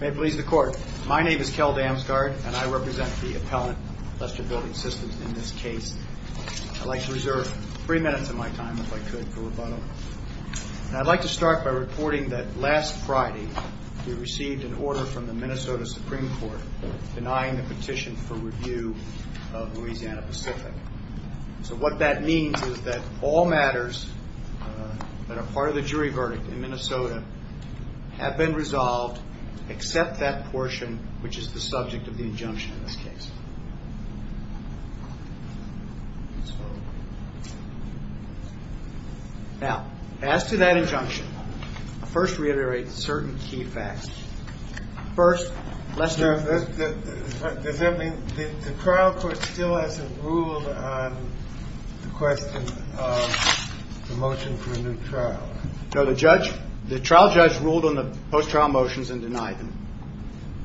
May it please the Court. My name is Kel Damsgaard, and I represent the appellant, Lester Building Systems, in this case. I'd like to reserve three minutes of my time, if I could, for rebuttal. I'd like to start by reporting that last Friday we received an order from the Minnesota Supreme Court denying the petition for review of Louisiana-Pacific. So what that means is that all matters that are part of the jury verdict in Minnesota have been resolved except that portion, which is the subject of the injunction in this case. Now, as to that injunction, I'll first reiterate certain key facts. First, Lester. Does that mean the trial court still hasn't ruled on the question of the motion for a new trial? No, the trial judge ruled on the post-trial motions and denied them.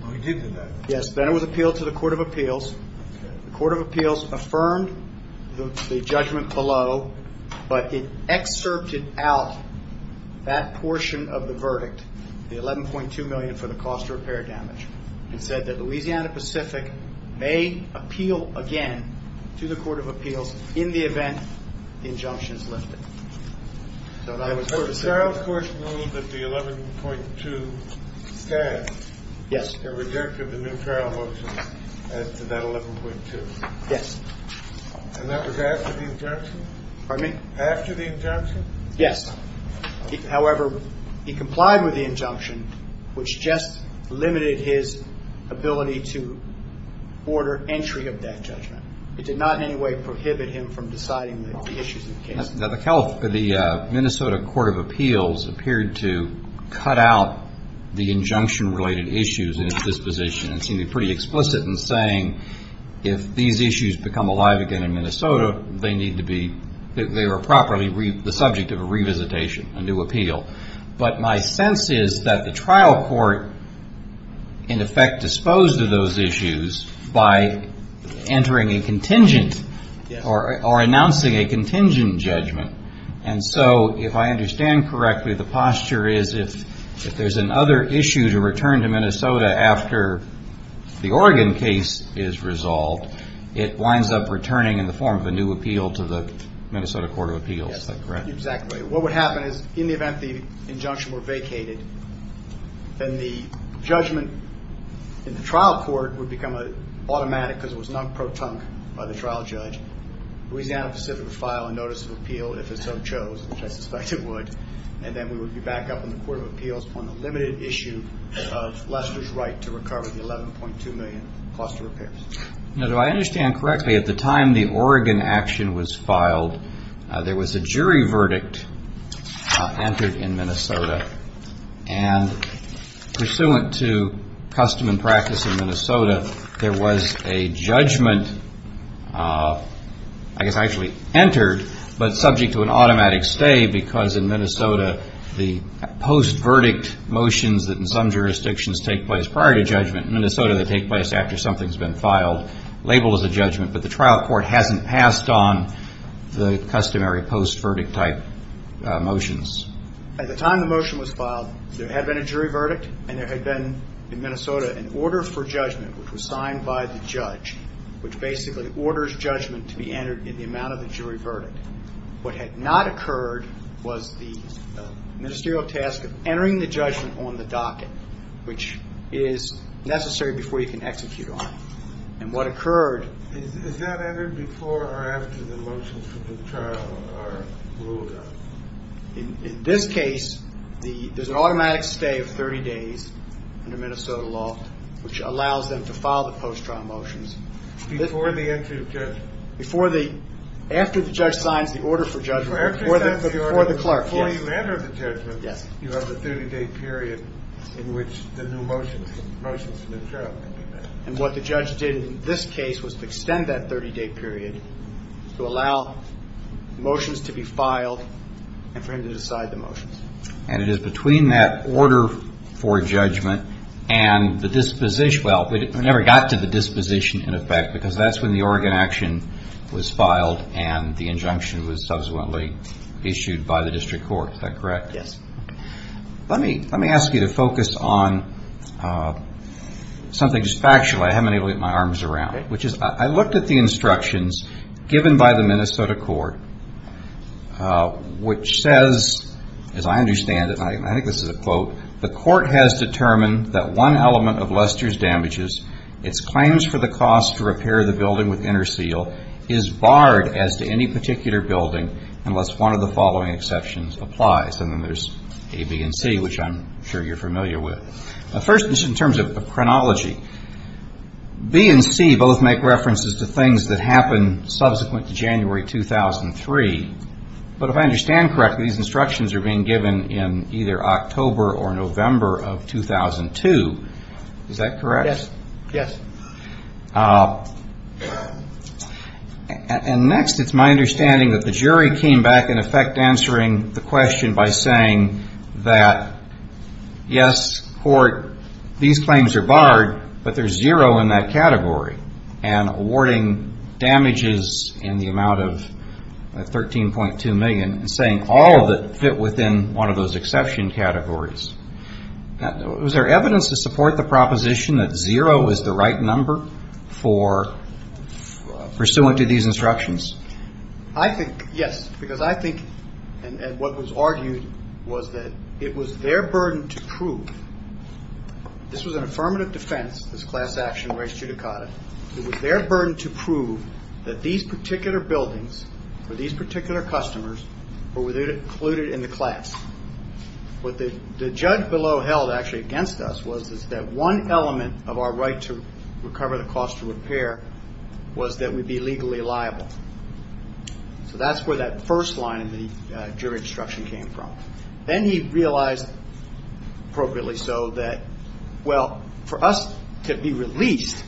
Oh, he did deny them? Yes. Then it was appealed to the Court of Appeals. The Court of Appeals affirmed the judgment below, but it excerpted out that portion of the verdict, the $11.2 million for the cost of repair damage, and said that Louisiana-Pacific may appeal again to the Court of Appeals in the event the injunction is lifted. So the trial court ruled that the $11.2 stands? Yes. The rejection of the new trial motion as to that $11.2? Yes. And that was after the injunction? Pardon me? After the injunction? Yes. However, he complied with the injunction, which just limited his ability to order entry of that judgment. It did not in any way prohibit him from deciding the issues of the case. Now, the Minnesota Court of Appeals appeared to cut out the injunction-related issues in its disposition, and seemed pretty explicit in saying if these issues become alive again in Minnesota, they need to be – they are properly the subject of a revisitation, a new appeal. But my sense is that the trial court, in effect, disposed of those issues by entering a contingent or announcing a contingent judgment. And so if I understand correctly, the posture is if there's another issue to return to Minnesota after the Oregon case is resolved, it winds up returning in the form of a new appeal to the Minnesota Court of Appeals. Is that correct? Exactly. What would happen is in the event the injunction were vacated, then the judgment in the trial court would become automatic because it was not pro-tunc by the trial judge. Louisiana Pacific would file a notice of appeal if it so chose, which I suspect it would. And then we would be back up in the Court of Appeals on the limited issue of Lester's right to recover the $11.2 million cost of repairs. Now, if I understand correctly, at the time the Oregon action was filed, there was a jury verdict entered in Minnesota. And pursuant to custom and practice in Minnesota, there was a judgment, I guess actually entered, but subject to an automatic stay because in Minnesota the post-verdict motions that in some jurisdictions take place prior to judgment, in Minnesota they take place after something's been filed, labeled as a judgment, but the trial court hasn't passed on the customary post-verdict type motions. At the time the motion was filed, there had been a jury verdict and there had been in Minnesota an order for judgment, which was signed by the judge, which basically orders judgment to be entered in the amount of the jury verdict. What had not occurred was the ministerial task of entering the judgment on the docket, which is necessary before you can execute on it. And what occurred... Is that entered before or after the motions for the trial are ruled on? In this case, there's an automatic stay of 30 days under Minnesota law, which allows them to file the post-trial motions. Before the entry of judgment? After the judge signs the order for judgment, before the clerk, yes. Before you enter the judgment, you have the 30-day period in which the new motions for the trial can be passed. And what the judge did in this case was to extend that 30-day period to allow motions to be filed and for him to decide the motions. And it is between that order for judgment and the disposition... And the injunction was subsequently issued by the district court. Is that correct? Yes. Let me ask you to focus on something that's factual. I haven't been able to get my arms around it, which is I looked at the instructions given by the Minnesota court, which says, as I understand it, and I think this is a quote, the court has determined that one element of Lester's damages, its claims for the cost to repair the building with interseal, is barred as to any particular building unless one of the following exceptions applies. And then there's A, B, and C, which I'm sure you're familiar with. First, just in terms of chronology, B and C both make references to things that happened subsequent to January 2003. But if I understand correctly, these instructions are being given in either October or November of 2002. Is that correct? Yes. Yes. And next, it's my understanding that the jury came back in effect answering the question by saying that, yes, court, these claims are barred, but there's zero in that category, and awarding damages in the amount of $13.2 million and saying all of it fit within one of those exception categories. Was there evidence to support the proposition that zero is the right number for pursuant to these instructions? I think, yes, because I think, and what was argued was that it was their burden to prove. This was an affirmative defense, this class action res judicata. It was their burden to prove that these particular buildings or these particular customers were included in the class. What the judge below held actually against us was that one element of our right to recover the cost of repair was that we be legally liable. So that's where that first line in the jury instruction came from. Then he realized, appropriately so, that, well, for us to be released,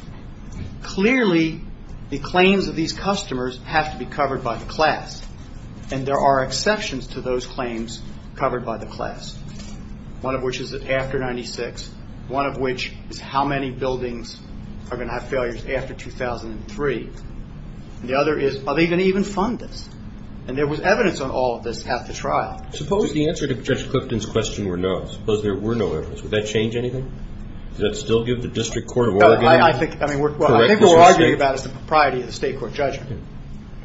clearly the claims of these customers have to be covered by the class, and there are exceptions to those claims covered by the class, one of which is after 1996, one of which is how many buildings are going to have failures after 2003, and the other is are they going to even fund this? And there was evidence on all of this at the trial. Suppose the answer to Judge Clifton's question were no. Suppose there were no evidence. Would that change anything? Does that still give the District Court of Oregon the right to correct this mistake? No, I think what we're arguing about is the propriety of the state court judgment,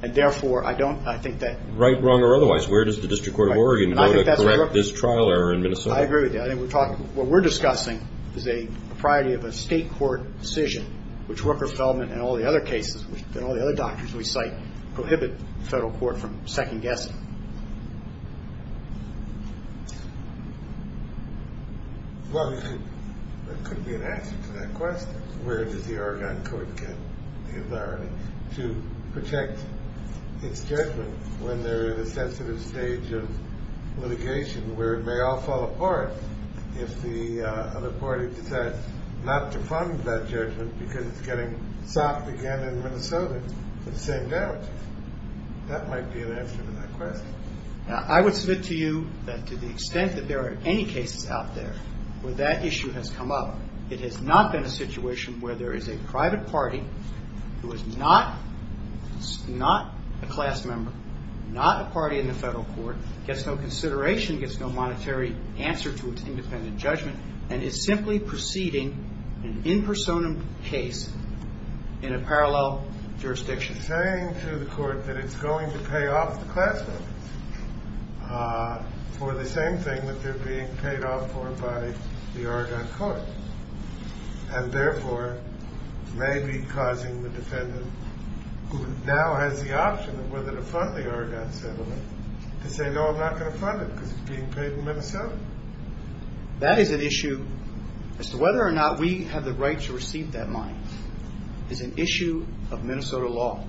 and therefore I don't, I think that. Right, wrong, or otherwise, where does the District Court of Oregon go to correct this trial error in Minnesota? I agree with you. I think we're talking, what we're discussing is a propriety of a state court decision, which Rooker-Feldman and all the other cases, and all the other doctors we cite, prohibit the federal court from second-guessing. Well, there could be an answer to that question. Where does the Oregon court get the authority to protect its judgment when they're in a sensitive stage of litigation where it may all fall apart if the other party decides not to fund that judgment because it's getting socked again in Minnesota for the same damages? That might be an answer to that question. I would submit to you that to the extent that there are any cases out there where that issue has come up, it has not been a situation where there is a private party who is not a class member, not a party in the federal court, gets no consideration, gets no monetary answer to its independent judgment, and is simply proceeding an in personam case in a parallel jurisdiction. Saying to the court that it's going to pay off the class members for the same thing that they're being paid off for by the Oregon court, and therefore may be causing the defendant, who now has the option of whether to fund the Oregon settlement, to say, no, I'm not going to fund it because it's being paid in Minnesota. That is an issue as to whether or not we have the right to receive that money. It's an issue of Minnesota law.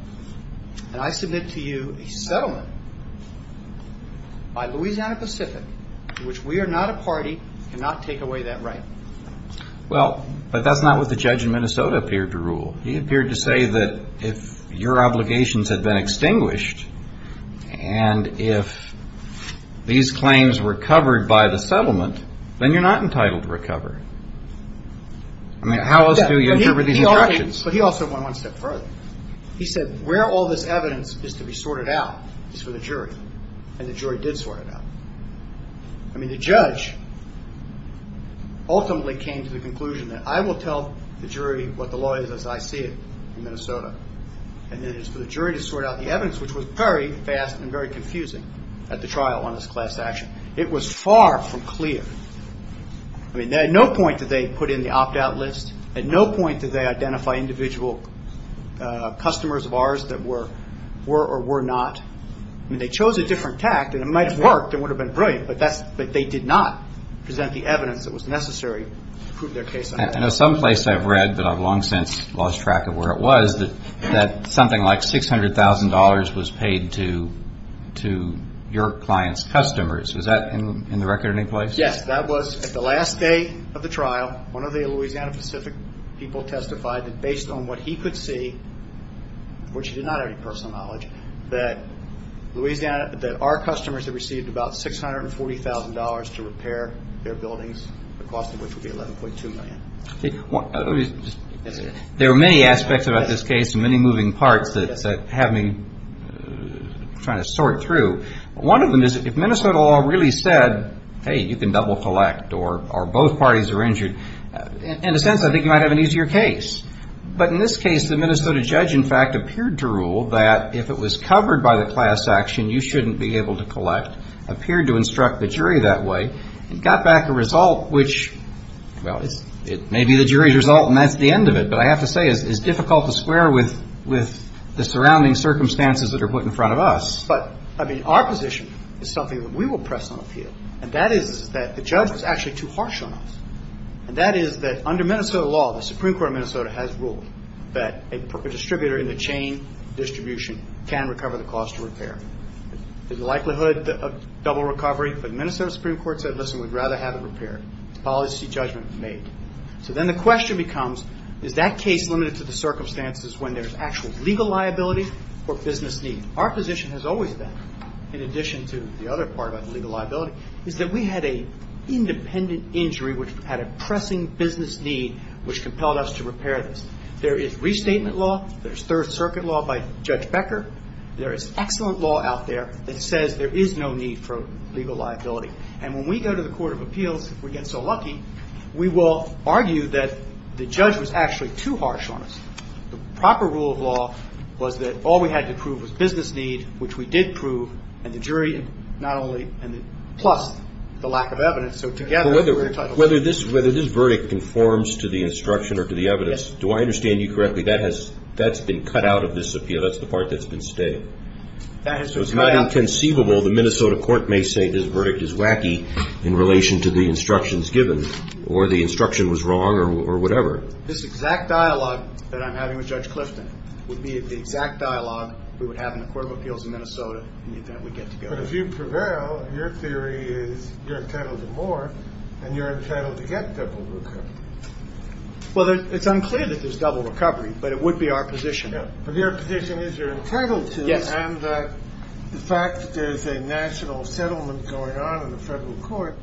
And I submit to you a settlement by Louisiana Pacific, which we are not a party, cannot take away that right. Well, but that's not what the judge in Minnesota appeared to rule. He appeared to say that if your obligations had been extinguished and if these claims were covered by the settlement, then you're not entitled to recover. I mean, how else do you interpret these instructions? But he also went one step further. He said where all this evidence is to be sorted out is for the jury, and the jury did sort it out. I mean, the judge ultimately came to the conclusion that I will tell the jury what the law is as I see it in Minnesota, and then it's for the jury to sort out the evidence, which was very fast and very confusing at the trial on this class action. It was far from clear. I mean, at no point did they put in the opt-out list. At no point did they identify individual customers of ours that were or were not. I mean, they chose a different tact, and it might have worked, it would have been brilliant, but they did not present the evidence that was necessary to prove their case. I know some place I've read, but I've long since lost track of where it was, that something like $600,000 was paid to your client's customers. Was that in the record in any place? Yes. That was the last day of the trial. One of the Louisiana Pacific people testified that based on what he could see, which he did not have any personal knowledge, that Louisiana, that our customers had received about $640,000 to repair their buildings, the cost of which would be $11.2 million. There are many aspects about this case and many moving parts that have me trying to sort through. One of them is if Minnesota law really said, hey, you can double collect or both parties are injured, in a sense, I think you might have an easier case. But in this case, the Minnesota judge, in fact, appeared to rule that if it was covered by the class action, you shouldn't be able to collect, appeared to instruct the jury that way, and got back a result which, well, it may be the jury's result and that's the end of it, but I have to say it's difficult to square with the surrounding circumstances that are put in front of us. But, I mean, our position is something that we will press on the field, and that is that the judge was actually too harsh on us, and that is that under Minnesota law, the Supreme Court of Minnesota has ruled that a distributor in the chain distribution can recover the cost of repair. There's a likelihood of double recovery, but the Minnesota Supreme Court said, listen, we'd rather have it repaired. It's a policy judgment made. So then the question becomes, is that case limited to the circumstances when there's actual legal liability or business need? Our position has always been, in addition to the other part about the legal liability, is that we had an independent injury which had a pressing business need which compelled us to repair this. There is restatement law. There's Third Circuit law by Judge Becker. There is excellent law out there that says there is no need for legal liability. And when we go to the Court of Appeals, if we get so lucky, we will argue that the judge was actually too harsh on us. The proper rule of law was that all we had to prove was business need, which we did prove, and the jury not only, and plus the lack of evidence. So together, we were entitled to this. Well, whether this verdict conforms to the instruction or to the evidence, do I understand you correctly, that has been cut out of this appeal? That's the part that's been stayed? That has been cut out. So it's not inconceivable the Minnesota court may say this verdict is wacky in relation to the instructions given, or the instruction was wrong, or whatever. This exact dialogue that I'm having with Judge Clifton would be the exact dialogue we would have in the Court of Appeals in Minnesota in the event we get to go there. But if you prevail, your theory is you're entitled to more, and you're entitled to get double recovery. Well, it's unclear that there's double recovery, but it would be our position. But your position is you're entitled to, and the fact that there's a national settlement going on in the federal court,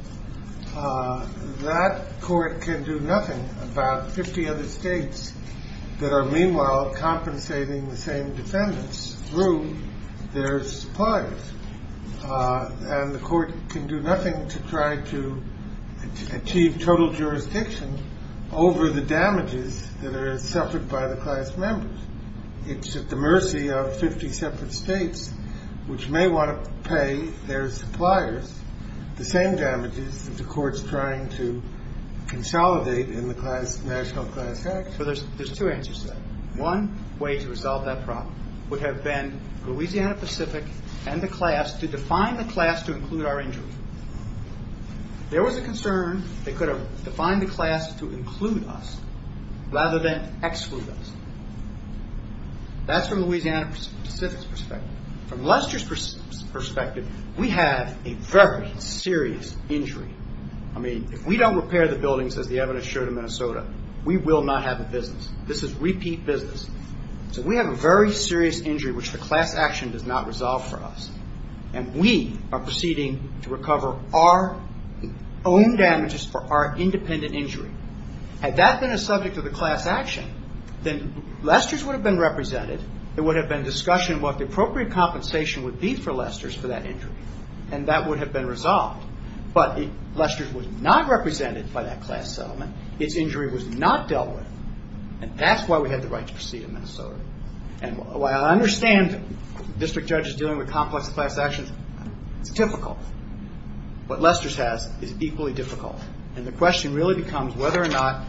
that court can do nothing about 50 other states that are meanwhile compensating the same defendants through their suppliers. And the court can do nothing to try to achieve total jurisdiction over the damages that are suffered by the class members. It's at the mercy of 50 separate states, which may want to pay their suppliers the same damages that the court's trying to consolidate in the National Class Act. So there's two answers to that. One way to resolve that problem would have been Louisiana Pacific and the class to define the class to include our injuries. There was a concern they could have defined the class to include us rather than exclude us. That's from Louisiana Pacific's perspective. From Lester's perspective, we have a very serious injury. I mean, if we don't repair the buildings, as the evidence showed in Minnesota, we will not have a business. This is repeat business. So we have a very serious injury which the class action does not resolve for us, and we are proceeding to recover our own damages for our independent injury. Had that been a subject of the class action, then Lester's would have been represented. There would have been discussion what the appropriate compensation would be for Lester's for that injury, and that would have been resolved. But Lester's was not represented by that class settlement. Its injury was not dealt with, and that's why we had the right to proceed in Minnesota. And while I understand district judges dealing with complex class actions, it's difficult. What Lester's has is equally difficult, and the question really becomes whether or not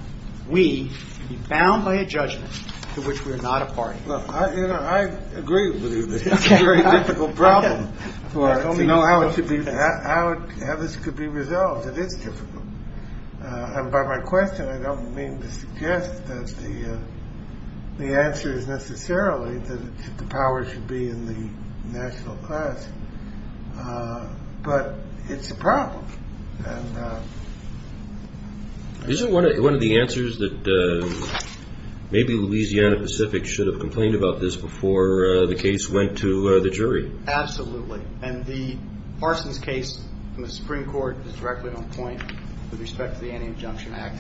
we can be bound by a judgment to which we are not a party. I agree with you that it's a very difficult problem. I don't know how this could be resolved. It is difficult. And by my question, I don't mean to suggest that the answer is necessarily that the power should be in the national class, but it's a problem. Isn't one of the answers that maybe Louisiana Pacific should have complained about this before the case went to the jury? Absolutely. And the Parsons case from the Supreme Court is directly on point with respect to the Anti-Injunction Act.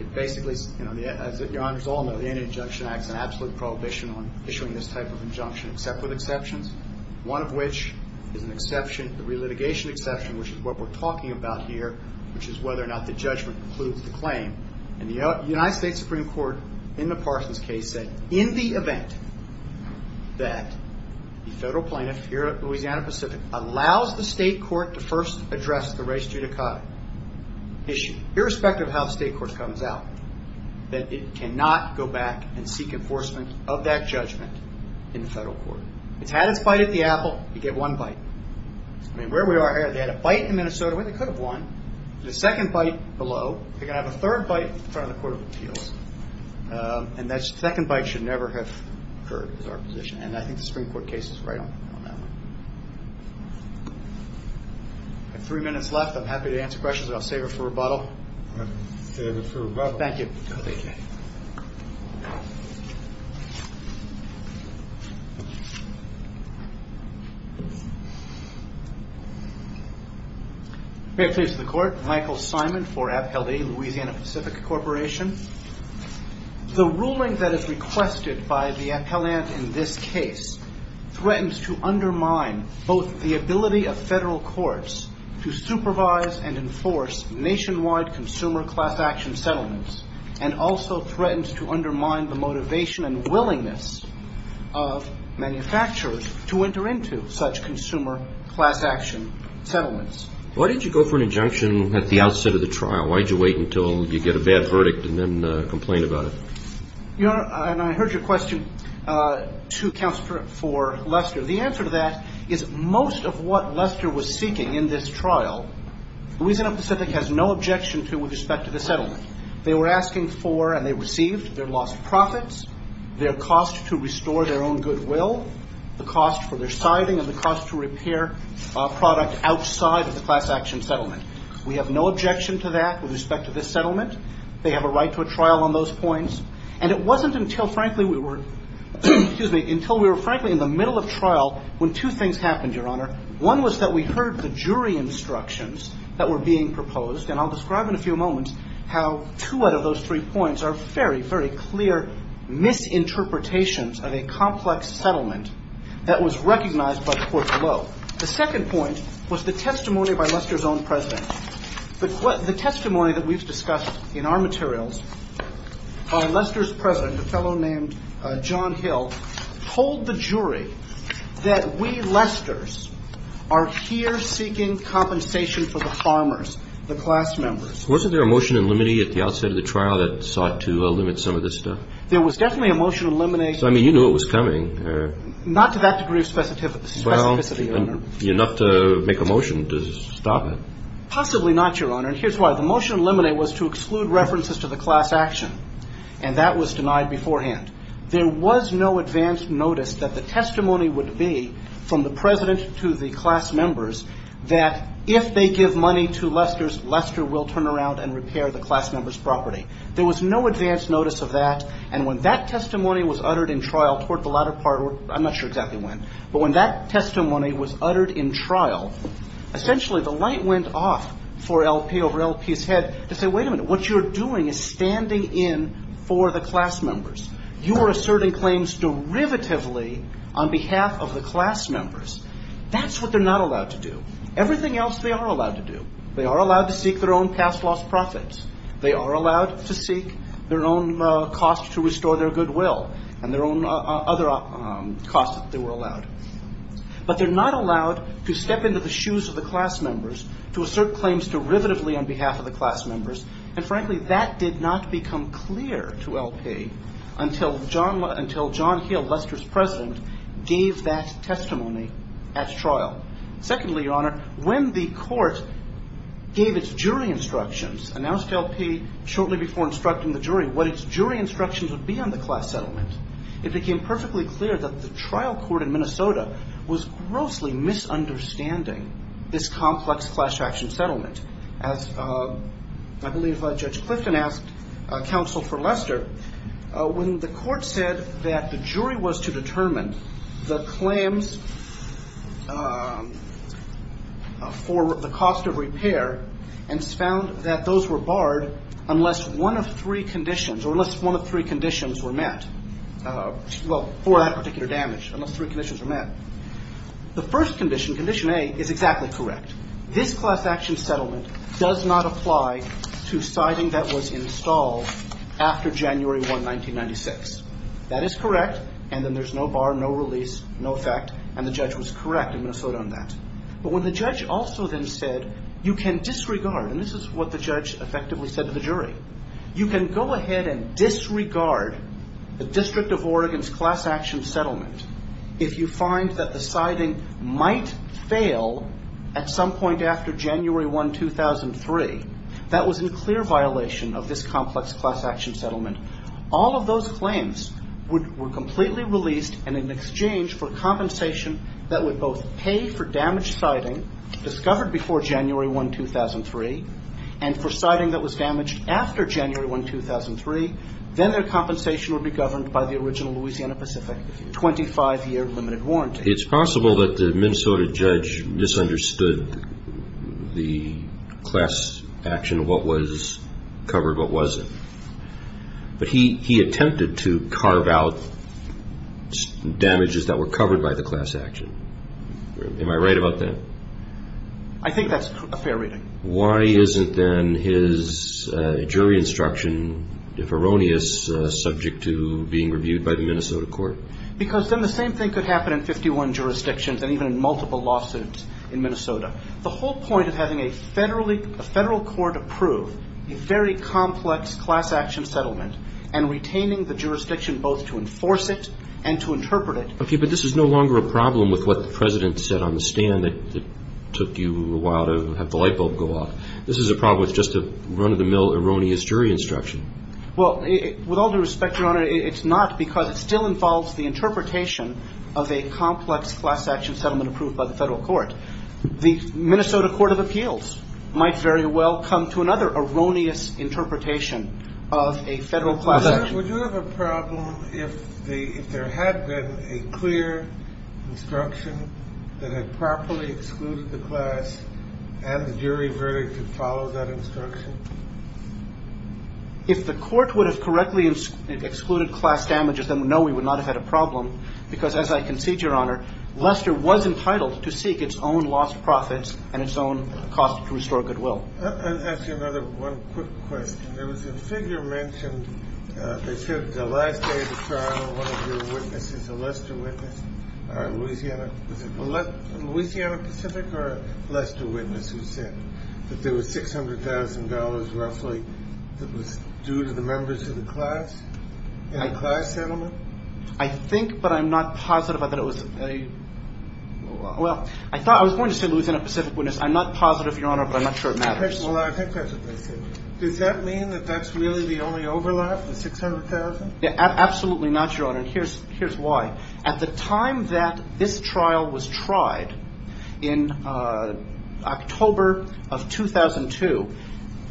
It basically, as your honors all know, the Anti-Injunction Act is an absolute prohibition on issuing this type of injunction, except with exceptions, one of which is an exception, a relitigation exception, which is what we're talking about here, which is whether or not the judgment includes the claim. And the United States Supreme Court, in the Parsons case, said in the event that the federal plaintiff here at Louisiana Pacific allows the state court to first address the res judicata issue, irrespective of how the state court comes out, that it cannot go back and seek enforcement of that judgment in the federal court. It's had its bite at the apple. You get one bite. Where we are here, they had a bite in Minnesota where they could have won. The second bite below. They're going to have a third bite in front of the Court of Appeals. And that second bite should never have occurred is our position. And I think the Supreme Court case is right on that one. I have three minutes left. I'm happy to answer questions, or I'll save it for rebuttal. Save it for rebuttal. Thank you. May it please the Court. Michael Simon for Appellee Louisiana Pacific Corporation. The ruling that is requested by the appellant in this case threatens to undermine both the ability of federal courts to supervise and enforce nationwide consumer class action settlements, and also threatens to undermine the motivation and willingness of manufacturers to enter into such consumer class action settlements. Why did you go for an injunction at the outset of the trial? Why did you wait until you get a bad verdict and then complain about it? Your Honor, and I heard your question to counsel for Lester. The answer to that is most of what Lester was seeking in this trial, Louisiana Pacific has no objection to with respect to the settlement. They were asking for and they received their lost profits, their cost to restore their own goodwill, the cost for their siding and the cost to repair product outside of the class action settlement. We have no objection to that with respect to this settlement. They have a right to a trial on those points. And it wasn't until, frankly, we were in the middle of trial when two things happened, your Honor. One was that we heard the jury instructions that were being proposed, and I'll describe in a few moments how two out of those three points are very, very clear misinterpretations of a complex settlement that was recognized by the court below. The second point was the testimony by Lester's own president. The testimony that we've discussed in our materials by Lester's president, a fellow named John Hill, told the jury that we, Lester's, are here seeking compensation for the farmers, the class members. Wasn't there a motion in limine at the outset of the trial that sought to limit some of this stuff? There was definitely a motion in limine. So, I mean, you knew it was coming. Not to that degree of specificity, your Honor. Well, enough to make a motion to stop it. Possibly not, your Honor. And here's why. The motion in limine was to exclude references to the class action, and that was denied beforehand. There was no advance notice that the testimony would be from the president to the class members' property. There was no advance notice of that, and when that testimony was uttered in trial toward the latter part, I'm not sure exactly when, but when that testimony was uttered in trial, essentially the light went off for L.P. over L.P.'s head to say, wait a minute, what you're doing is standing in for the class members. You are asserting claims derivatively on behalf of the class members. That's what they're not allowed to do. Everything else they are allowed to do. They are allowed to seek their own past lost profits. They are allowed to seek their own cost to restore their goodwill and their own other costs if they were allowed. But they're not allowed to step into the shoes of the class members to assert claims derivatively on behalf of the class members, and frankly that did not become clear to L.P. until John Hill, Lester's president, gave that testimony at trial. Secondly, Your Honor, when the court gave its jury instructions, announced to L.P. shortly before instructing the jury what its jury instructions would be on the class settlement, it became perfectly clear that the trial court in Minnesota was grossly misunderstanding this complex class action settlement. As I believe Judge Clifton asked counsel for Lester, when the court said that the jury was to determine the claims for the cost of repair and found that those were barred unless one of three conditions, or unless one of three conditions were met, well, for that particular damage, unless three conditions were met. The first condition, Condition A, is exactly correct. This class action settlement does not apply to siding that was installed after January 1, 1996. That is correct, and then there's no bar, no release, no effect. And the judge was correct in Minnesota on that. But when the judge also then said, you can disregard, and this is what the judge effectively said to the jury, you can go ahead and disregard the District of Oregon's class action settlement if you find that the siding might fail at some point after January 1, 2003. That was in clear violation of this complex class action settlement. All of those claims were completely released and in exchange for compensation that would both pay for damaged siding discovered before January 1, 2003 and for siding that was damaged after January 1, 2003, then their compensation would be governed by the original Louisiana Pacific 25-year limited warranty. It's possible that the Minnesota judge misunderstood the class action, what was covered, what wasn't. But he attempted to carve out damages that were covered by the class action. Am I right about that? I think that's a fair reading. Why isn't then his jury instruction, if erroneous, subject to being reviewed by the Minnesota court? Because then the same thing could happen in 51 jurisdictions and even in multiple lawsuits in Minnesota. The whole point of having a federal court approve a very complex class action settlement and retaining the jurisdiction both to enforce it and to interpret it. Okay, but this is no longer a problem with what the President said on the stand that took you a while to have the light bulb go off. This is a problem with just a run-of-the-mill erroneous jury instruction. Well, with all due respect, Your Honor, it's not because it still involves the interpretation of a complex class action settlement approved by the federal court. The Minnesota Court of Appeals might very well come to another erroneous interpretation of a federal class action. Would you have a problem if there had been a clear instruction that had properly excluded the class and the jury verdict had followed that instruction? If the court would have correctly excluded class damages, then no, we would not have had a problem. Because as I concede, Your Honor, Lester was entitled to seek its own lost profits and its own cost to restore goodwill. I'll ask you another one quick question. There was a figure mentioned that said the last day of the trial one of your witnesses, a Lester witness, a Louisiana Pacific or a Lester witness who said that there was $600,000 roughly that was due to the members of the class in the class settlement? I think but I'm not positive that it was a well, I thought I was going to say Louisiana Pacific witness. I'm not positive, Your Honor, but I'm not sure it matters. Well, I think that's what they said. Does that mean that that's really the only overlap, the $600,000? Absolutely not, Your Honor. Here's why. At the time that this trial was tried in October of 2002,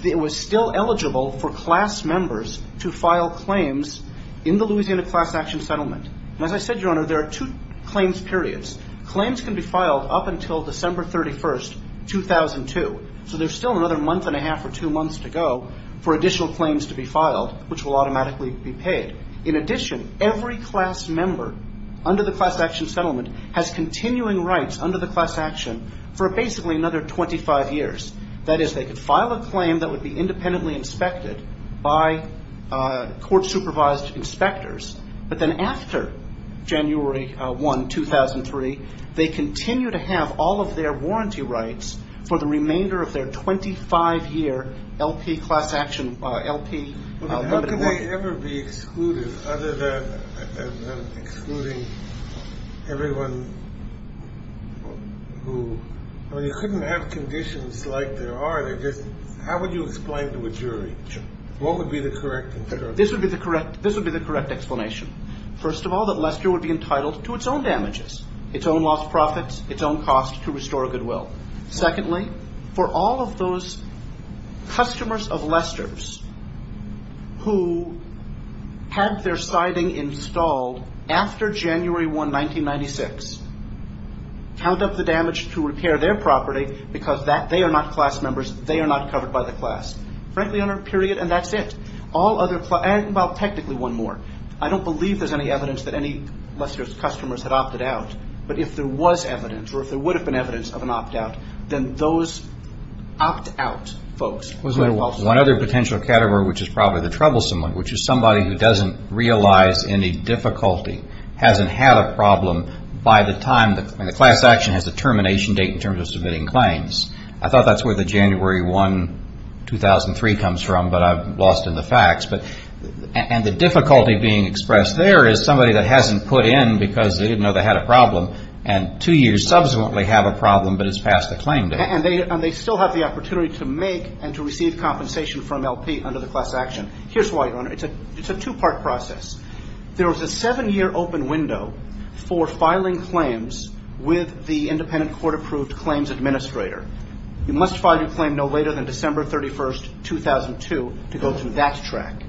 it was still eligible for class members to file claims in the Louisiana class action settlement. And as I said, Your Honor, there are two claims periods. Claims can be filed up until December 31, 2002. So there's still another month and a half or two months to go for additional claims to be filed, which will automatically be paid. In addition, every class member under the class action settlement has continuing rights under the class action for basically another 25 years. That is, they could file a claim that would be independently inspected by court-supervised inspectors. But then after January 1, 2003, they continue to have all of their warranty rights for the remainder of their 25-year LP class action, LP limited warranty. How could they ever be excluded other than excluding everyone who – I mean, you couldn't have conditions like there are. How would you explain to a jury what would be the correct explanation? This would be the correct explanation. First of all, that Lester would be entitled to its own damages, its own lost profits, its own cost to restore goodwill. Secondly, for all of those customers of Lester's who had their siding installed after January 1, 1996, count up the damage to repair their property because they are not class members, they are not covered by the class. Frankly, under a period, and that's it. All other – well, technically, one more. I don't believe there's any evidence that any Lester's customers had opted out. But if there was evidence or if there would have been evidence of an opt-out, then those opt-out folks. One other potential category, which is probably the troublesome one, which is somebody who doesn't realize any difficulty, hasn't had a problem by the time – and the class action has a termination date in terms of submitting claims. I thought that's where the January 1, 2003 comes from, but I've lost in the facts. And the difficulty being expressed there is somebody that hasn't put in because they didn't know they had a problem and two years subsequently have a problem but has passed the claim date. And they still have the opportunity to make and to receive compensation from LP under the class action. Here's why, Your Honor. It's a two-part process. There was a seven-year open window for filing claims with the independent court-approved claims administrator. You must file your claim no later than December 31, 2002 to go through that track.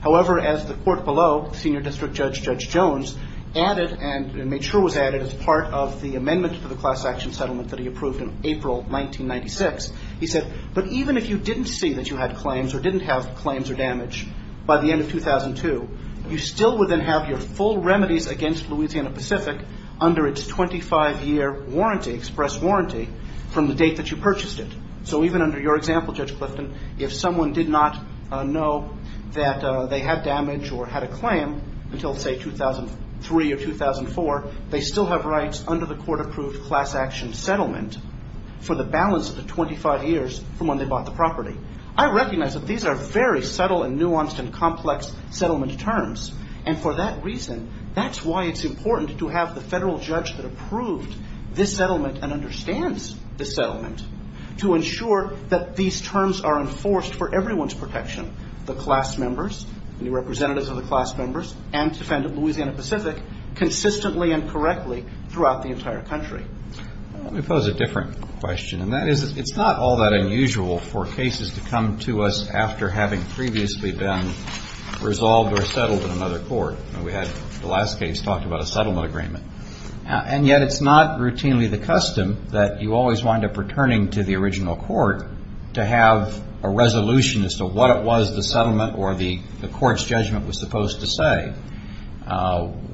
However, as the court below, Senior District Judge Judge Jones, added and made sure was added as part of the amendment to the class action settlement that he approved in April 1996, he said, but even if you didn't see that you had claims or didn't have claims or damage by the end of 2002, you still would then have your full remedies against Louisiana Pacific under its 25-year express warranty from the date that you purchased it. So even under your example, Judge Clifton, if someone did not know that they had damage or had a claim until, say, 2003 or 2004, they still have rights under the court-approved class action settlement for the balance of the 25 years from when they bought the property. I recognize that these are very subtle and nuanced and complex settlement terms, and for that reason, that's why it's important to have the federal judge that approved this settlement and understands this settlement to ensure that these terms are enforced for everyone's protection, the class members, the representatives of the class members, and to defend Louisiana Pacific consistently and correctly throughout the entire country. Let me pose a different question, and that is it's not all that unusual for cases to come to us after having previously been resolved or settled in another court. We had the last case talked about a settlement agreement, and yet it's not routinely the custom that you always wind up returning to the original court to have a resolution as to what it was the settlement or the court's judgment was supposed to say.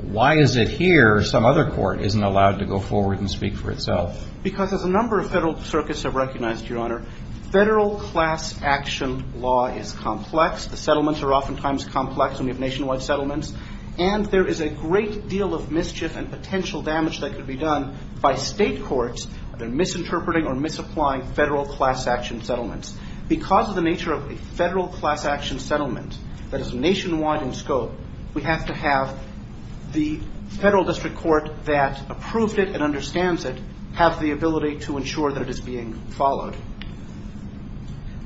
Why is it here some other court isn't allowed to go forward and speak for itself? Because as a number of federal circuits have recognized, Your Honor, federal class action law is complex. The settlements are oftentimes complex when we have nationwide settlements, and there is a great deal of mischief and potential damage that could be done by state courts that are misinterpreting or misapplying federal class action settlements. Because of the nature of a federal class action settlement that is nationwide in scope, we have to have the federal district court that approved it and understands it have the ability to ensure that it is being followed.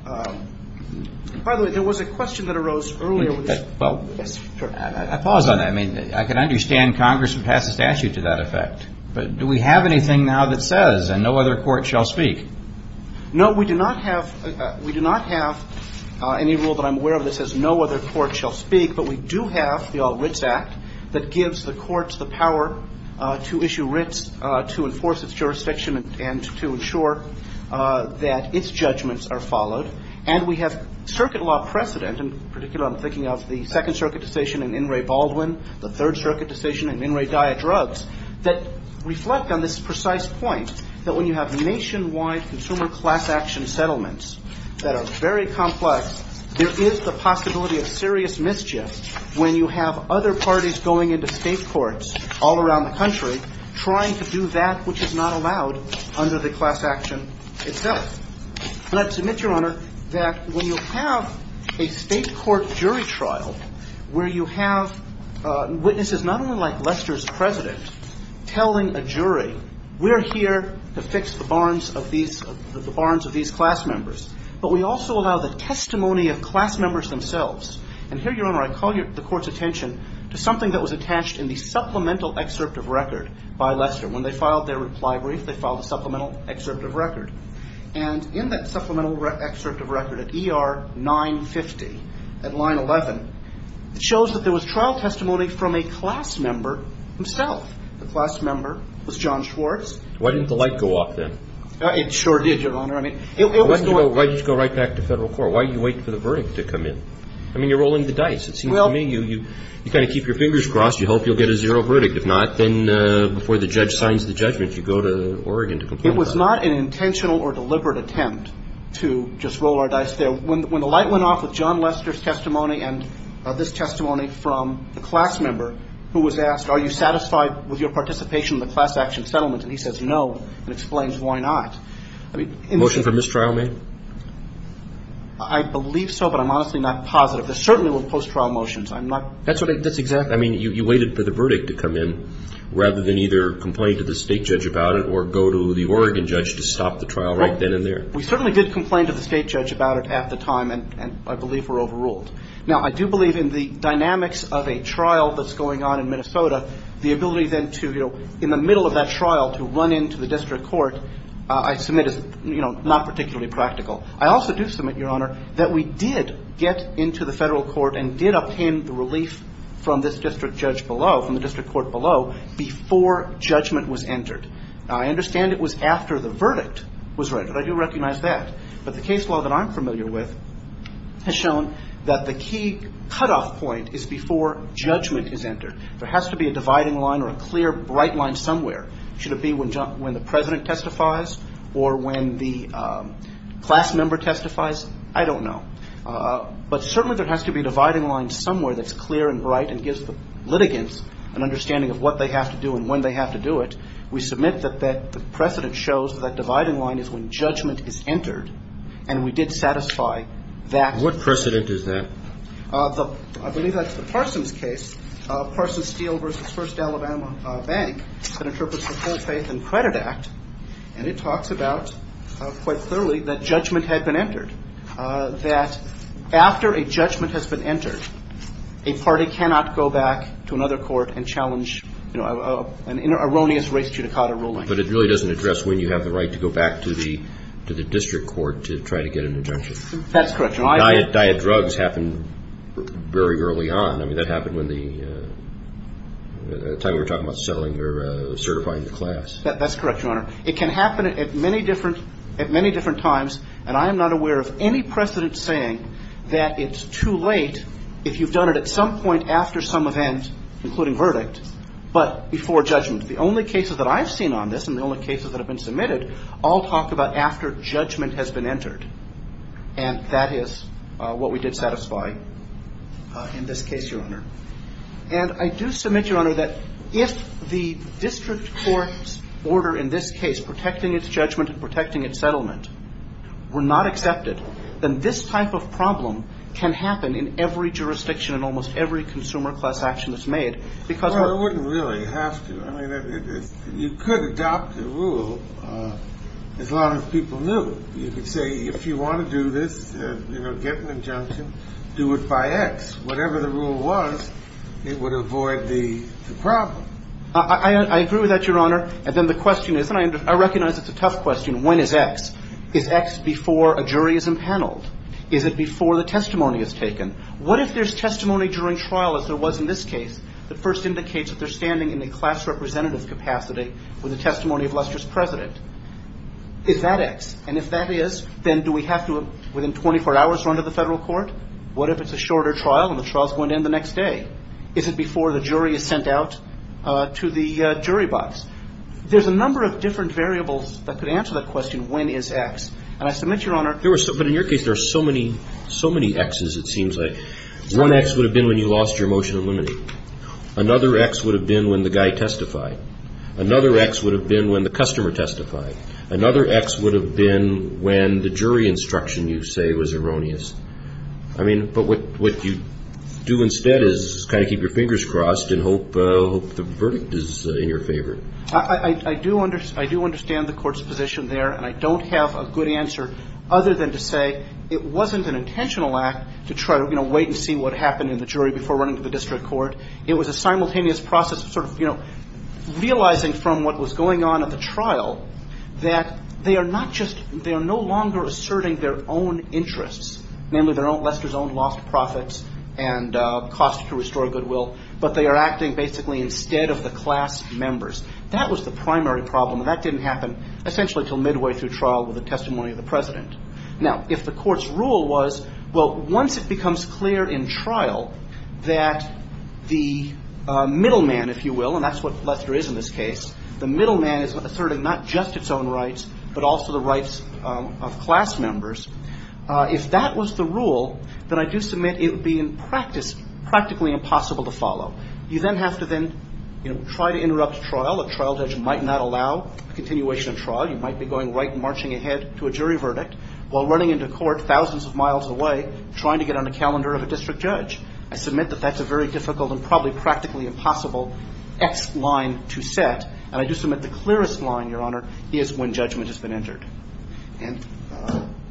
By the way, there was a question that arose earlier. Well, I pause on that. I mean, I can understand Congress would pass a statute to that effect, but do we have anything now that says no other court shall speak? No, we do not have any rule that I'm aware of that says no other court shall speak, but we do have the All Writs Act that gives the courts the power to issue writs, to enforce its jurisdiction, and to ensure that its judgments are followed. And we have circuit law precedent, in particular I'm thinking of the Second Circuit decision in In re Baldwin, the Third Circuit decision in In re Daya Drugs, that reflect on this precise point that when you have nationwide consumer class action settlements that are very complex, there is the possibility of serious mischief when you have other parties going into state courts all around the country trying to do that which is not allowed under the class action itself. And I submit, Your Honor, that when you have a state court jury trial where you have witnesses not only like Lester's president telling a jury, we're here to fix the barns of these class members, but we also allow the testimony of class members themselves. And here, Your Honor, I call the court's attention to something that was attached in the supplemental excerpt of record by Lester. When they filed their reply brief, they filed a supplemental excerpt of record. And in that supplemental excerpt of record at ER 950 at line 11, it shows that there was trial testimony from a class member himself. The class member was John Schwartz. Why didn't the light go off then? It sure did, Your Honor. I mean, it was going to go. Why didn't it go right back to federal court? Why are you waiting for the verdict to come in? I mean, you're rolling the dice, it seems to me. You kind of keep your fingers crossed. You hope you'll get a zero verdict. If not, then before the judge signs the judgment, you go to Oregon to complain about it. It was not an intentional or deliberate attempt to just roll our dice there. When the light went off with John Lester's testimony and this testimony from the class member who was asked, are you satisfied with your participation in the class action settlement? And he says no and explains why not. Motion for mistrial, ma'am? I believe so, but I'm honestly not positive. Certainly with post-trial motions, I'm not. That's exactly. I mean, you waited for the verdict to come in rather than either complain to the state judge about it or go to the Oregon judge to stop the trial right then and there. We certainly did complain to the state judge about it at the time, and I believe we're overruled. Now, I do believe in the dynamics of a trial that's going on in Minnesota, the ability then to, you know, in the middle of that trial to run into the district court, I submit is, you know, not particularly practical. I also do submit, Your Honor, that we did get into the federal court and did obtain the relief from this district judge below, from the district court below, before judgment was entered. I understand it was after the verdict was read, but I do recognize that. But the case law that I'm familiar with has shown that the key cutoff point is before judgment is entered. There has to be a dividing line or a clear, bright line somewhere. Should it be when the president testifies or when the class member testifies? I don't know. But certainly there has to be a dividing line somewhere that's clear and bright and gives the litigants an understanding of what they have to do and when they have to do it. We submit that the precedent shows that that dividing line is when judgment is entered. And we did satisfy that. What precedent is that? I believe that's the Parsons case, Parsons Steel v. First Alabama Bank, that interprets the Full Faith and Credit Act. And it talks about, quite clearly, that judgment had been entered, that after a judgment has been entered, a party cannot go back to another court and challenge an erroneous race judicata ruling. But it really doesn't address when you have the right to go back to the district court to try to get an injunction. That's correct, Your Honor. Diet drugs happen very early on. I mean, that happened when the time we were talking about settling or certifying the class. That's correct, Your Honor. It can happen at many different times. And I am not aware of any precedent saying that it's too late if you've done it at some point after some event, including verdict, but before judgment. The only cases that I've seen on this and the only cases that have been submitted all talk about after judgment has been entered. And that is what we did satisfy in this case, Your Honor. And I do submit, Your Honor, that if the district court's order in this case, protecting its judgment and protecting its settlement, were not accepted, then this type of problem can happen in every jurisdiction in almost every consumer class action that's made. Well, it wouldn't really have to. I mean, you could adopt the rule as long as people knew. You could say, if you want to do this, you know, get an injunction, do it by X. Whatever the rule was, it would avoid the problem. I agree with that, Your Honor. And then the question is, and I recognize it's a tough question, when is X? Is X before a jury is impaneled? Is it before the testimony is taken? What if there's testimony during trial, as there was in this case, that first indicates that they're standing in a class representative capacity with a testimony of Lester's president? Is that X? And if that is, then do we have to, within 24 hours, run to the federal court? What if it's a shorter trial and the trial's going to end the next day? Is it before the jury is sent out to the jury box? There's a number of different variables that could answer that question, when is X. And I submit, Your Honor. But in your case, there are so many Xs, it seems like. One X would have been when you lost your motion of limiting. Another X would have been when the guy testified. Another X would have been when the customer testified. Another X would have been when the jury instruction, you say, was erroneous. I mean, but what you do instead is kind of keep your fingers crossed and hope the verdict is in your favor. I do understand the court's position there. And I don't have a good answer other than to say it wasn't an intentional act to try to, you know, wait and see what happened in the jury before running to the district court. It was a simultaneous process of sort of, you know, realizing from what was going on at the trial, that they are not just, they are no longer asserting their own interests, namely Lester's own lost profits and cost to restore goodwill, but they are acting basically instead of the class members. That was the primary problem. That didn't happen essentially until midway through trial with the testimony of the president. Now, if the court's rule was, well, once it becomes clear in trial that the middleman, if you will, and that's what Lester is in this case, the middleman is asserting not just its own rights, but also the rights of class members. If that was the rule, then I do submit it would be in practice practically impossible to follow. You then have to then, you know, try to interrupt trial. A trial judge might not allow a continuation of trial. You might be going right and marching ahead to a jury verdict while running into court thousands of miles away, trying to get on the calendar of a district judge. I submit that that's a very difficult and probably practically impossible X line to set, and I do submit the clearest line, Your Honor, is when judgment has been entered. And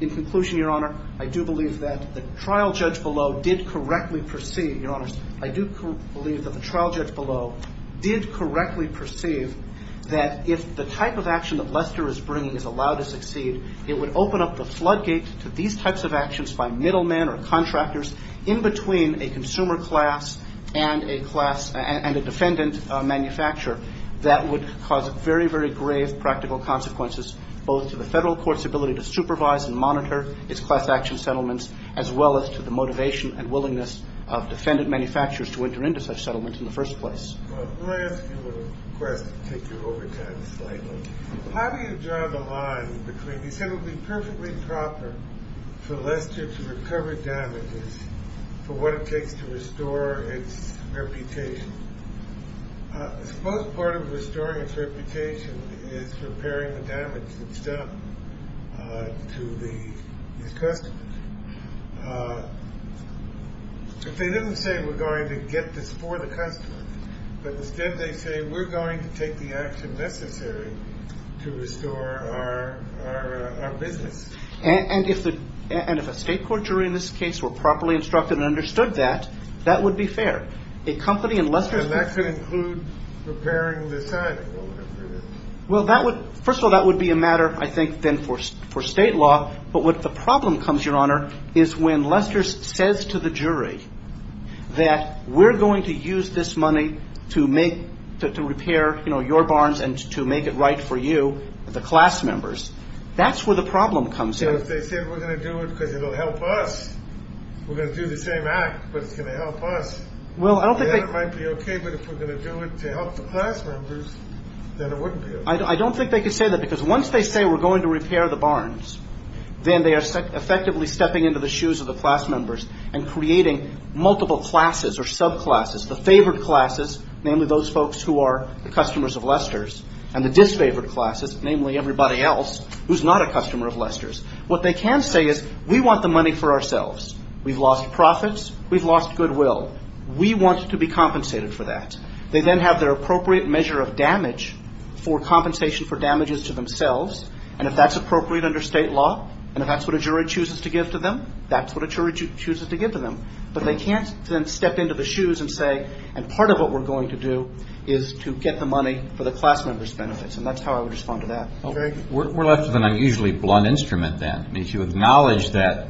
in conclusion, Your Honor, I do believe that the trial judge below did correctly perceive, Your Honors, I do believe that the trial judge below did correctly perceive that if the type of action it would open up the floodgate to these types of actions by middlemen or contractors in between a consumer class and a defendant manufacturer, that would cause very, very grave practical consequences, both to the federal court's ability to supervise and monitor its class action settlements, as well as to the motivation and willingness of defendant manufacturers to enter into such settlements in the first place. Well, let me ask you a question to take you over time slightly. How do you draw the line between, you said it would be perfectly proper for Lester to recover damages for what it takes to restore its reputation? I suppose part of restoring its reputation is repairing the damage that's done to these customers. They didn't say we're going to get this for the customer, but instead they say we're going to take the action necessary to restore our business. And if a state court jury in this case were properly instructed and understood that, that would be fair. A company in Lester's picture. And that could include repairing the sign. Well, first of all, that would be a matter, I think, then for state law. But what the problem comes, Your Honor, is when Lester says to the jury that we're going to use this money to make, to repair, you know, your barns and to make it right for you, the class members. That's where the problem comes in. If they say we're going to do it because it will help us, we're going to do the same act, but it's going to help us. Well, I don't think they. It might be okay, but if we're going to do it to help the class members, then it wouldn't be okay. I don't think they could say that because once they say we're going to repair the barns, then they are effectively stepping into the shoes of the class members and creating multiple classes or subclasses. The favored classes, namely those folks who are the customers of Lester's, and the disfavored classes, namely everybody else who's not a customer of Lester's. What they can say is we want the money for ourselves. We've lost profits. We've lost goodwill. We want to be compensated for that. They then have their appropriate measure of damage for compensation for damages to themselves, and if that's appropriate under state law and if that's what a jury chooses to give to them, that's what a jury chooses to give to them. But they can't then step into the shoes and say, and part of what we're going to do is to get the money for the class members' benefits, and that's how I would respond to that. We're left with an unusually blunt instrument then. If you acknowledge that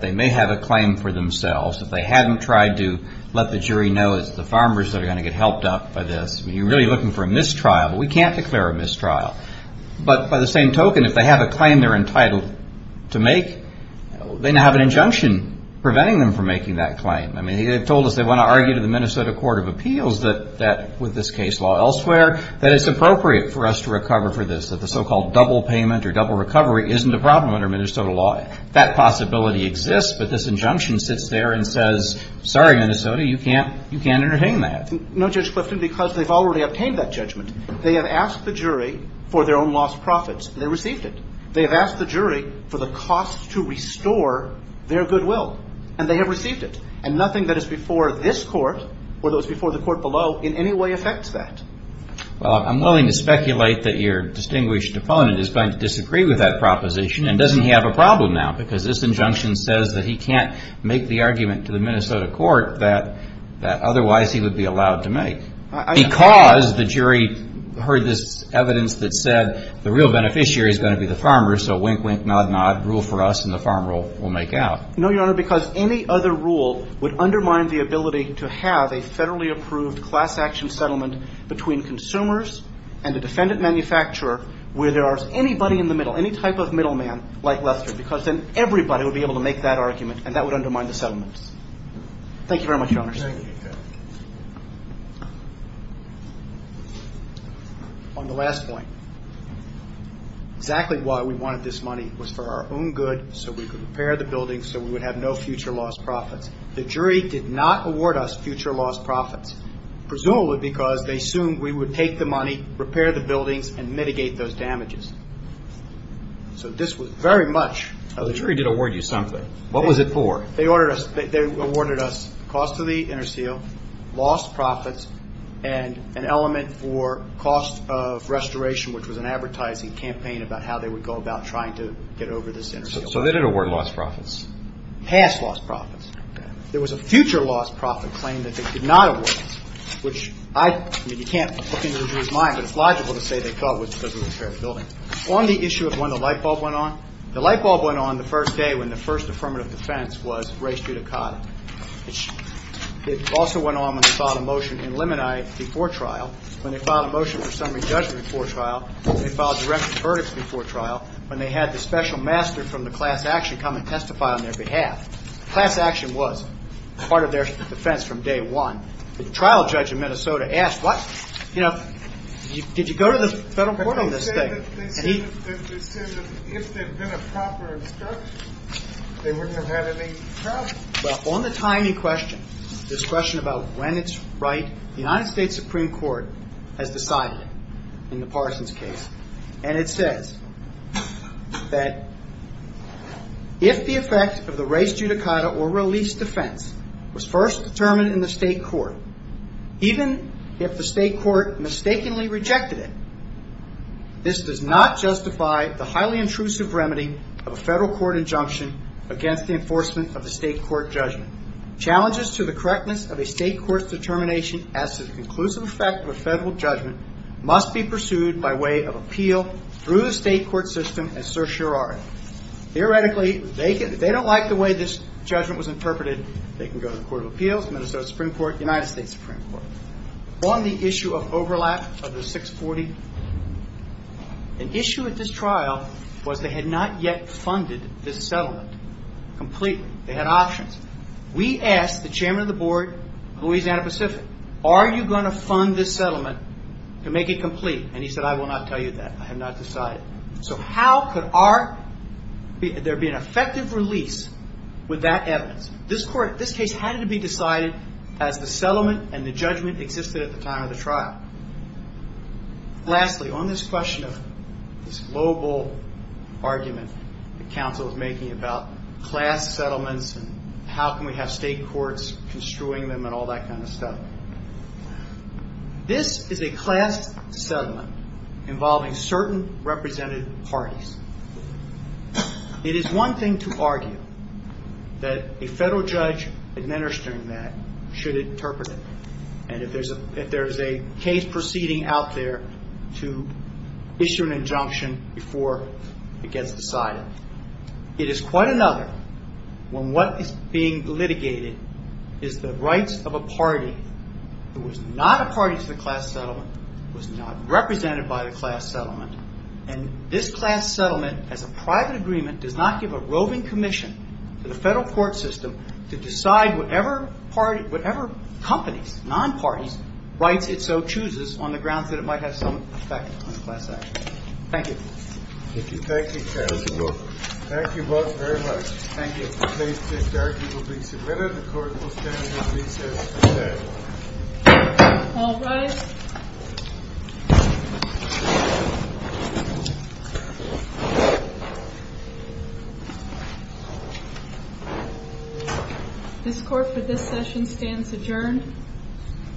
they may have a claim for themselves, if they haven't tried to let the jury know it's the farmers that are going to get helped up by this, you're really looking for a mistrial, but we can't declare a mistrial. But by the same token, if they have a claim they're entitled to make, they now have an injunction preventing them from making that claim. I mean, they've told us they want to argue to the Minnesota Court of Appeals that, with this case law elsewhere, that it's appropriate for us to recover for this, that the so-called double payment or double recovery isn't a problem under Minnesota law. That possibility exists, but this injunction sits there and says, sorry, Minnesota, you can't entertain that. No, Judge Clifton, because they've already obtained that judgment. They have asked the jury for their own lost profits, and they received it. They have asked the jury for the cost to restore their goodwill, and they have received it. And nothing that is before this court or those before the court below in any way affects that. Well, I'm willing to speculate that your distinguished opponent is going to disagree with that proposition and doesn't have a problem now because this injunction says that he can't make the argument to the Minnesota court that otherwise he would be allowed to make. Because the jury heard this evidence that said the real beneficiary is going to be the farmer, so wink, wink, nod, nod, rule for us, and the farmer will make out. No, Your Honor, because any other rule would undermine the ability to have a federally approved class action settlement between consumers and a defendant manufacturer where there is anybody in the middle, any type of middleman like Lester, because then everybody would be able to make that argument, and that would undermine the settlements. Thank you very much, Your Honor. Thank you, Judge. On the last point, exactly why we wanted this money was for our own good, so we could repair the buildings so we would have no future lost profits. The jury did not award us future lost profits, presumably because they assumed we would take the money, repair the buildings, and mitigate those damages. So this was very much of the jury. The jury did award you something. What was it for? They awarded us cost of the interseal, lost profits, and an element for cost of restoration, which was an advertising campaign about how they would go about trying to get over this interseal. So they didn't award lost profits? Past lost profits. There was a future lost profit claim that they could not award us, which you can't look into the jury's mind, but it's logical to say they thought it was because we repaired the building. On the issue of when the lightbulb went on, the lightbulb went on the first day when the first affirmative defense was raised judicata. It also went on when they filed a motion in limini before trial, when they filed a motion for summary judgment before trial, when they filed direct verdicts before trial, when they had the special master from the class action come and testify on their behalf. The class action was part of their defense from day one. The trial judge in Minnesota asked, what, you know, did you go to the federal court on this thing? They said that if there had been a proper instruction, they wouldn't have had any trouble. Well, on the time you question, this question about when it's right, the United States Supreme Court has decided in the Parsons case, and it says that if the effect of the race judicata or release defense was first determined in the state court, even if the state court mistakenly rejected it, this does not justify the highly intrusive remedy of a federal court injunction against the enforcement of the state court judgment. Challenges to the correctness of a state court's determination as to the conclusive effect of a federal judgment must be pursued by way of appeal through the state court system and certiorari. Theoretically, they don't like the way this judgment was interpreted. They can go to the Court of Appeals, Minnesota Supreme Court, United States Supreme Court. On the issue of overlap of the 640, an issue at this trial was they had not yet funded this settlement completely. They had options. We asked the chairman of the board, Louisiana Pacific, are you going to fund this settlement to make it complete? And he said, I will not tell you that. I have not decided. So how could there be an effective release with that evidence? This court, this case had to be decided as the settlement and the judgment existed at the time of the trial. Lastly, on this question of this global argument that counsel is making about class settlements and how can we have state courts construing them and all that kind of stuff, this is a class settlement involving certain representative parties. It is one thing to argue that a federal judge administering that should interpret it. And if there is a case proceeding out there to issue an injunction before it gets decided. It is quite another when what is being litigated is the rights of a party who is not a party to the class settlement, who is not represented by the class settlement. And this class settlement as a private agreement does not give a roving commission to the federal court system to decide whatever companies, non-parties, rights it so chooses on the grounds that it might have some effect on the class action. Thank you. Thank you. Thank you, counsel. Thank you both very much. Thank you. The case to be argued will be submitted. The court will stand at recess today. All rise. This court for this session stands adjourned. Thank you. Thank you. Thank you.